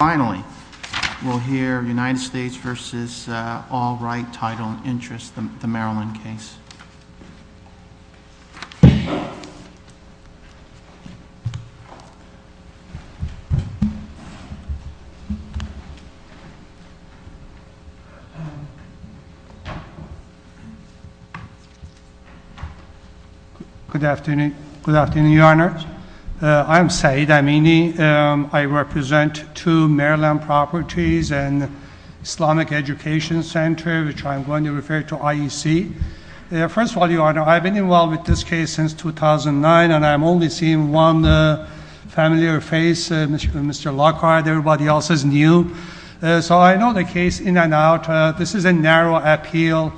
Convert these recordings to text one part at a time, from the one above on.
Finally, we'll hear United States versus all right, title, and interest, the Maryland case. Good afternoon. Good afternoon, Your Honor. I'm Said Amini. I represent to Maryland Properties and Islamic Education Center, which I'm going to refer to IEC. First of all, Your Honor, I've been involved with this case since 2009, and I'm only seeing one familiar face, Mr. Lockhart. Everybody else is new. So I know the case in and out. This is a narrow appeal.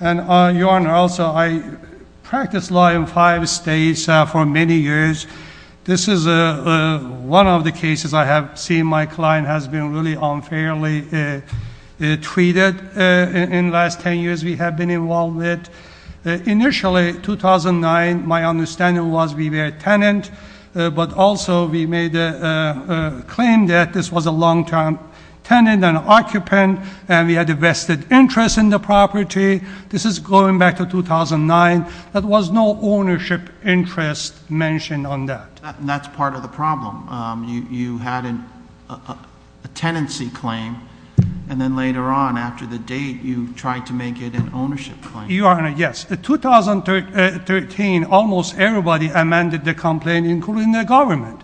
And Your Honor, also, I practiced law in five states for many years. This is one of the cases I have seen my client has been really unfairly treated in last 10 years we have been involved with. Initially, 2009, my understanding was we were a tenant, but also we made a claim that this was a long-term tenant and occupant, and we had a vested interest in the property. This is going back to 2009. There was no ownership interest mentioned on that. That's part of the problem. You had a tenancy claim, and then later on, after the date, you tried to make it an ownership claim. Your Honor, yes. In 2013, almost everybody amended the complaint, including the government.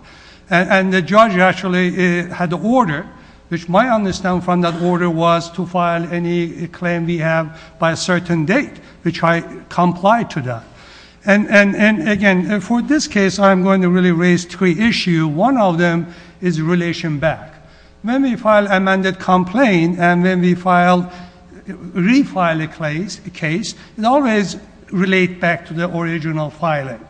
And the judge actually had the order, which my understanding from that order was to file any claim we have by a certain date, which I complied to that. And again, for this case, I'm going to really raise three issues. One of them is relation back. When we file amended complaint and when we refile a case, it always relates back to the original filing.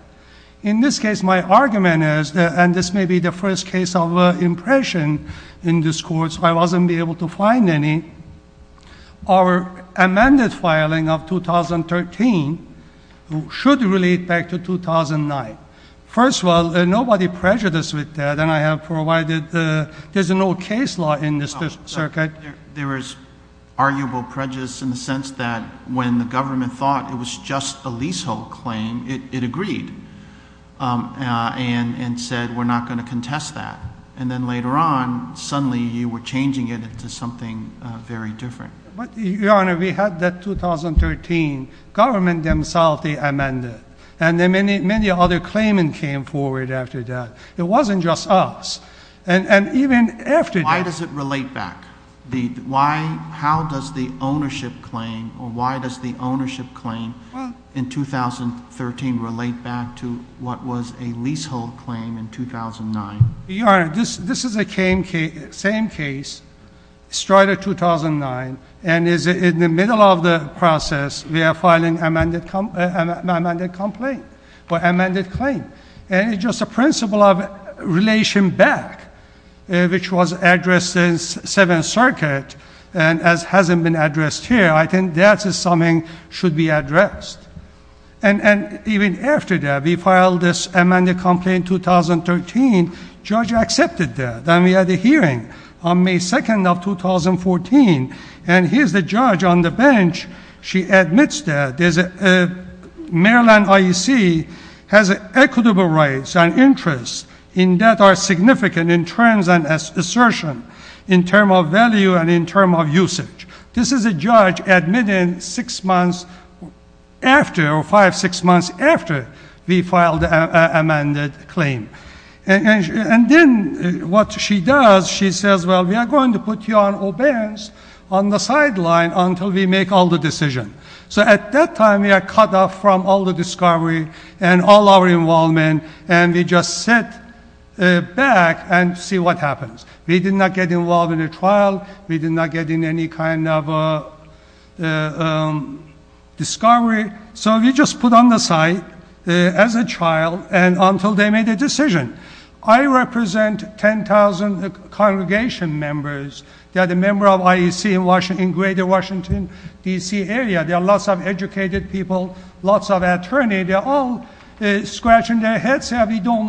In this case, my argument is, and this may be the first case of impression in this court, so I wasn't able to find any. Our amended filing of 2013 should relate back to 2009. First of all, nobody prejudiced with that, and I have provided, there's no case law in this circuit. There was arguable prejudice in the sense that when the government thought it was just a suddenly you were changing it into something very different. Your Honor, we had that 2013, government themselves, they amended. And many other claimants came forward after that. It wasn't just us. And even after that... Why does it relate back? How does the ownership claim, or why does the ownership claim in 2013 relate back to what was a leasehold claim in 2009? Your Honor, this is the same case, started 2009, and is in the middle of the process, we are filing amended complaint, or amended claim. And it's just a principle of relation back, which was addressed in Seventh Circuit and hasn't been addressed here. I think that's something should be addressed. And even after that, we filed this amended complaint 2013, judge accepted that. Then we had a hearing on May 2nd of 2014, and here's the judge on the bench. She admits that Maryland IEC has equitable rights and interests in that are significant in terms of assertion, in terms of value, and in terms of usage. This is a judge admitting six months after, or five, six months after we filed the amended claim. And then what she does, she says, well, we are going to put you on obeyance on the sideline until we make all the decision. So at that time, we are cut off from all the discovery and all our involvement, and we just sit back and see what happens. We did not get involved in a trial. We did not get in any kind of discovery. So we just put on the side as a trial, and until they made a decision. I represent 10,000 congregation members that are members of IEC in greater Washington, D.C. area. There are lots of educated people, lots of attorneys. They're all scratching their heads. So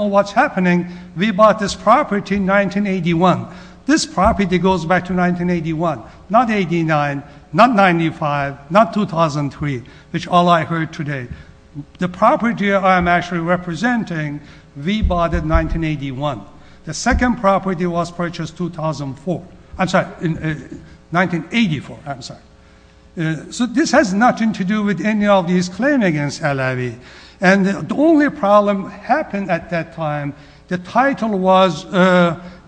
what's happening, we bought this property in 1981. This property goes back to 1981, not 89, not 95, not 2003, which all I heard today. The property I'm actually representing, we bought in 1981. The second property was purchased in 1984. So this has nothing to do with any of these claims against Alavi. And the only problem that happened at that time, the title was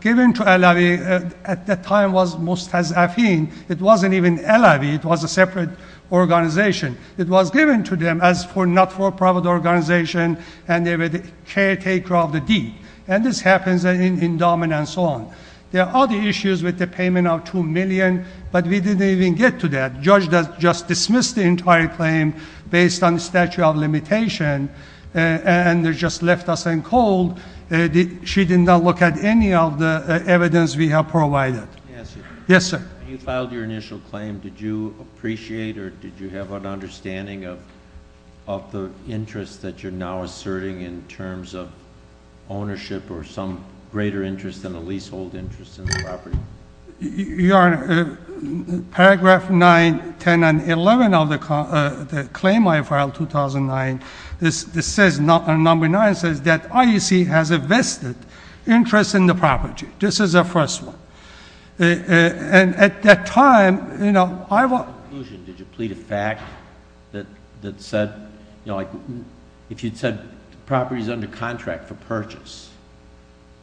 given to Alavi. At that time, it was Mustazafin. It wasn't even Alavi. It was a separate organization. It was given to them as not for a private organization, and they were the caretaker of the deed. And this happens in Dominion and so on. There are other issues with payment of $2 million, but we didn't even get to that. Judge just dismissed the entire claim based on statute of limitation, and they just left us in cold. She did not look at any of the evidence we have provided. Yes, sir. When you filed your initial claim, did you appreciate or did you have an understanding of the interest that you're now asserting in terms of ownership or some greater interest than the leasehold interest in the property? Your Honor, paragraph 9, 10, and 11 of the claim I filed 2009, this says, number 9 says that IUC has a vested interest in the property. This is the first one. And at that time, you know, I was... In conclusion, did you plead a fact that said, you know, like if you'd said the property's under contract for purchase,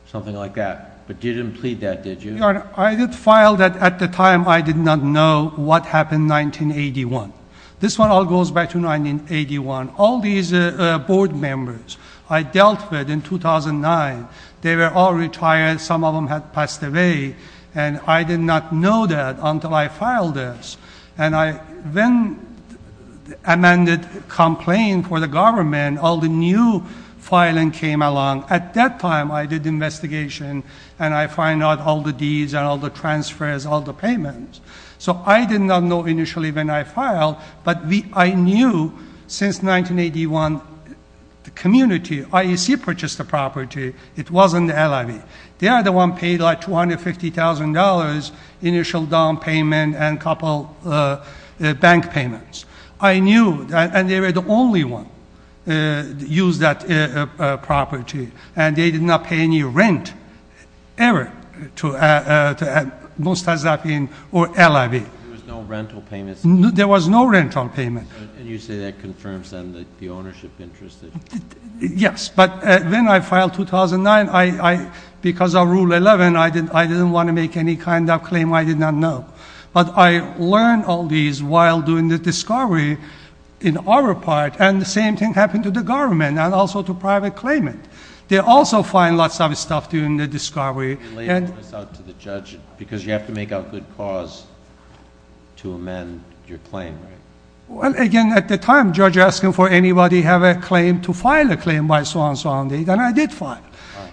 something like that? But you didn't plead that, did you? Your Honor, I did file that at the time. I did not know what happened in 1981. This one all goes back to 1981. All these board members I dealt with in 2009, they were all retired. Some of them had passed away, and I did not know that until I filed this. And I then amended complaint for the government. All the new filing came along. At that time, I did investigation, and I find out all the deeds and all the transfers, all the payments. So I did not know initially when I filed, but I knew since 1981, the community, IUC purchased the property. It wasn't the LIV. They are the one paid like $250,000 initial down payment and a couple bank payments. I knew, and they were the only one that used that property, and they did not pay any rent ever to Mostazapin or LIV. There was no rental payment? There was no rental payment. And you say that confirms then the ownership interest? Yes, but when I filed 2009, because of Rule 11, I didn't want to make any kind of claim. I did not know. But I learned all these while doing the discovery in our part, and the same thing happened to the government and also to private claimant. They also find lots of stuff during the discovery. You laid this out to the judge because you have to make a good cause to amend your claim, right? Well, again, at the time, judge asking for anybody have a claim to file a claim by so-and-so, and I did file.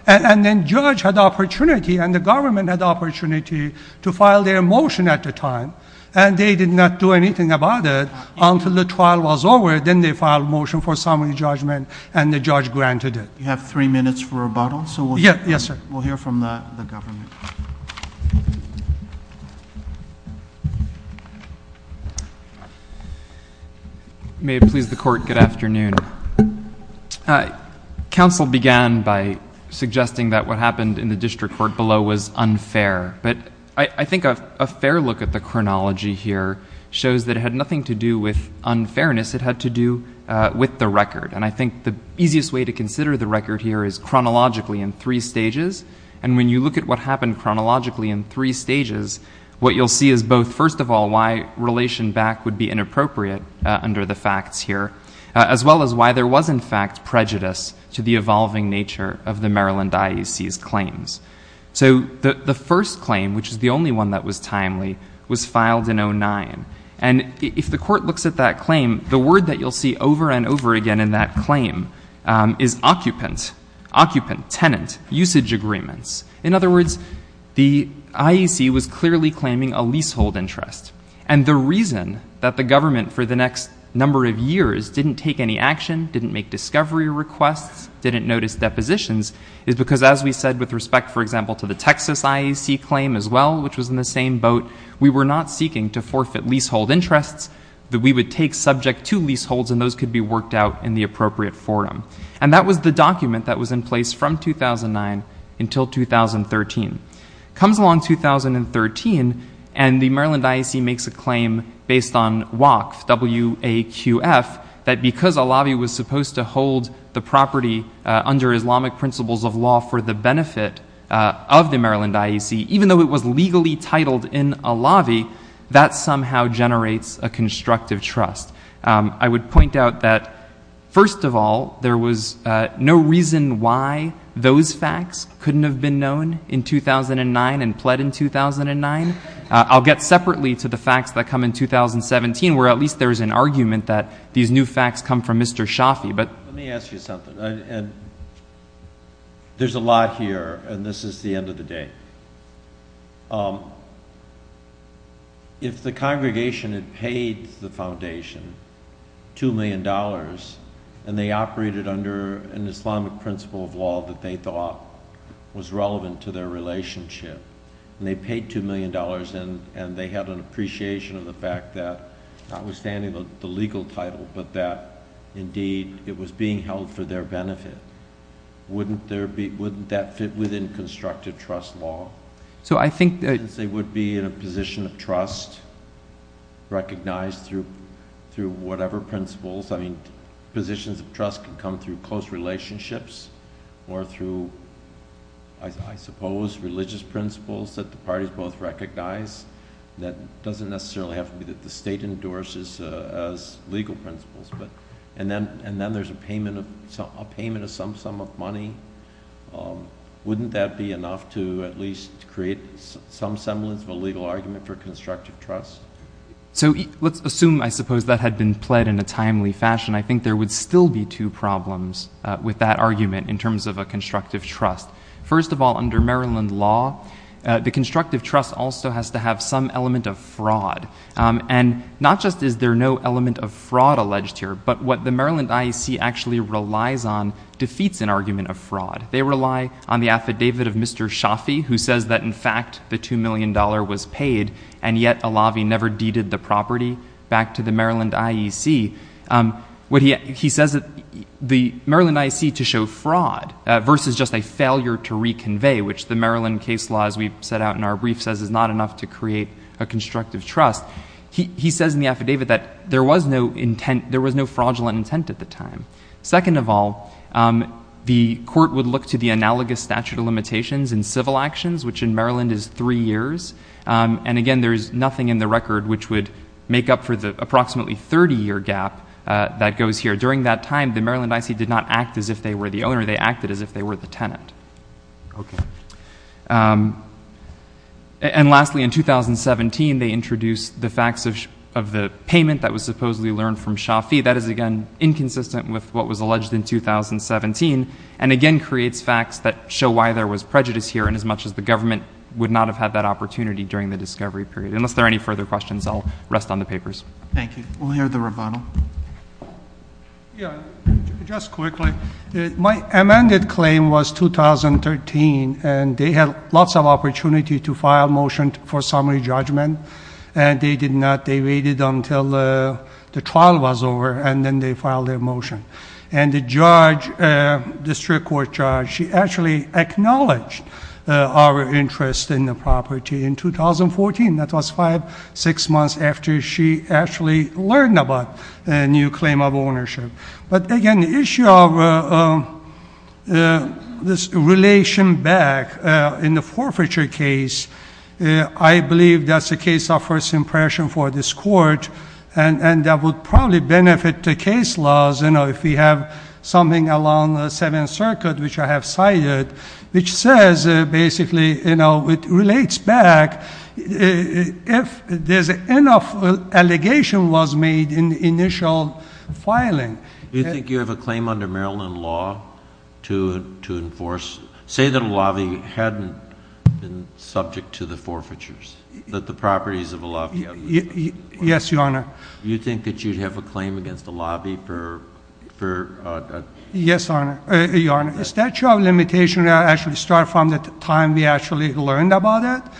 And then judge had opportunity, and the government had opportunity to file their motion at the time, and they did not do anything about it until the trial was over. Then they filed motion for summary judgment, and the judge granted it. You have three minutes for rebuttal, so we'll hear from the government. May it please the court, good afternoon. Council began by suggesting that what happened in the I think a fair look at the chronology here shows that it had nothing to do with unfairness. It had to do with the record. And I think the easiest way to consider the record here is chronologically in three stages. And when you look at what happened chronologically in three stages, what you'll see is both, first of all, why relation back would be inappropriate under the facts here, as well as why there was, in fact, prejudice to the evolving nature of the Maryland claims. So the first claim, which is the only one that was timely, was filed in 09. And if the court looks at that claim, the word that you'll see over and over again in that claim is occupant, occupant, tenant, usage agreements. In other words, the IEC was clearly claiming a leasehold interest. And the reason that the government for the next number of years didn't take any action, didn't make discovery requests, didn't notice depositions, is because as we said with respect, for example, to the Texas IEC claim as well, which was in the same boat, we were not seeking to forfeit leasehold interests that we would take subject to leaseholds and those could be worked out in the appropriate forum. And that was the document that was in place from 2009 until 2013. Comes along 2013 and the Maryland IEC makes a claim based on WAQF, W-A-Q-F, that because a lobby was supposed to hold the property under Islamic principles of law for the benefit of the Maryland IEC, even though it was legally titled in a lobby, that somehow generates a constructive trust. I would point out that first of all, there was no reason why those facts couldn't have been known in 2009 and pled in 2009. I'll get separately to the facts that come in 2017, where at least there's an argument that these new facts come from Mr. Shafi, but let me ask you something. And there's a lot here and this is the end of the day. If the congregation had paid the foundation two million dollars and they operated under an Islamic principle of law that they thought was relevant to their relationship and they paid two million dollars and they had an appreciation of the fact that notwithstanding the legal title, but that indeed it was being held for their benefit, wouldn't that fit within constructive trust law? Since they would be in a position of trust recognized through whatever principles. I mean positions of trust can come through close relationships or through, I suppose, religious principles that the parties both recognize. That doesn't necessarily have to be that the state endorses as legal principles. And then there's a payment of some sum of money. Wouldn't that be enough to at least create some semblance of a legal argument for constructive trust? So let's assume, I suppose, that had been pled in a timely fashion. I think there would still be two problems with that argument in terms of a constructive trust. First of all, under Maryland law, the constructive trust also has to have some element of fraud. And not just is there no element of fraud alleged here, but what the Maryland IEC actually relies on defeats an argument of fraud. They rely on the affidavit of Mr. Shafi who says that in fact the two million dollar was paid and yet Alavi never deeded the property back to the Maryland IEC. What he says that the Maryland IEC to show fraud versus just a failure to reconvey, which the Maryland case law, as we've set out in our brief, says is not enough to create a constructive trust. He says in the affidavit that there was no fraudulent intent at the time. Second of all, the court would look to the analogous statute of limitations in civil actions, which in Maryland is three years. And again, there's nothing in the record which would make up for the approximately 30 year gap that goes here. During that time, the Maryland IEC did not act as if they were the owner, they acted as if they were the tenant. And lastly, in 2017, they introduced the facts of the payment that was supposedly learned from Shafi. That is again inconsistent with what was alleged in 2017 and again creates facts that show why there was prejudice here and as much as the government would not have had that opportunity during the discovery period. Unless there are any further questions, I'll rest on the papers. Thank you. We'll hear the rebuttal. Yeah, just quickly. My amended claim was 2013 and they had lots of opportunity to file motion for summary judgment and they did not. They waited until the trial was over and then they filed their motion. And the judge, the district court judge, she actually acknowledged our interest in the property in 2014. That was five, six months after she actually learned about a new claim of ownership. But again, the issue of this relation back in the forfeiture case, I believe that's a case of first impression for this court and that would probably benefit the case laws, you know, if we have something along the Seventh Circuit, which I have cited, which says basically, you know, it relates back if there's enough allegation was made in the initial filing. Do you think you have a claim under Maryland law to enforce, say that a lobby hadn't been subject to the forfeitures, that the properties of a lobby? Yes, your honor. Do you think that you'd have a claim against the lobby for? Yes, your honor. The statute of limitations actually start from the time we actually learned about it.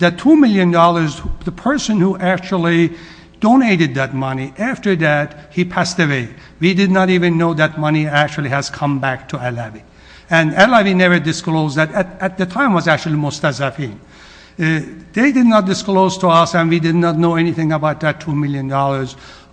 That $2 million, the person who actually donated that money after that, he passed away. We did not even know that money actually has come back to LAV. And LAV never disclosed that at the time was actually most as a fee. They did not disclose to us and we did not know anything about that $2 million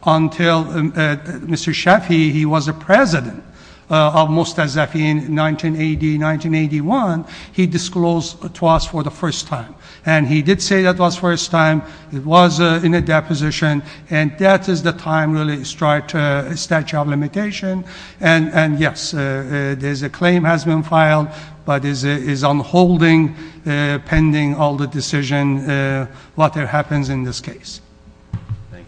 until Mr. Chaffee, he was a president of most as that in 1980, 1981, he disclosed to us for the first time. And he did say that was first time it was in a deposition. And that is the time really start a statute of limitation. And yes, there's a claim has been filed, but is on holding pending all the decision, what happens in this case.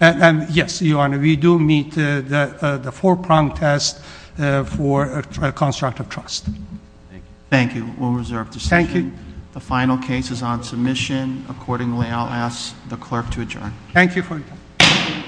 Yes, your honor, we do meet the four prong test for a construct of trust. Thank you. We'll reserve decision. The final case is on submission. Accordingly, I'll ask the clerk to adjourn. Thank you for your time.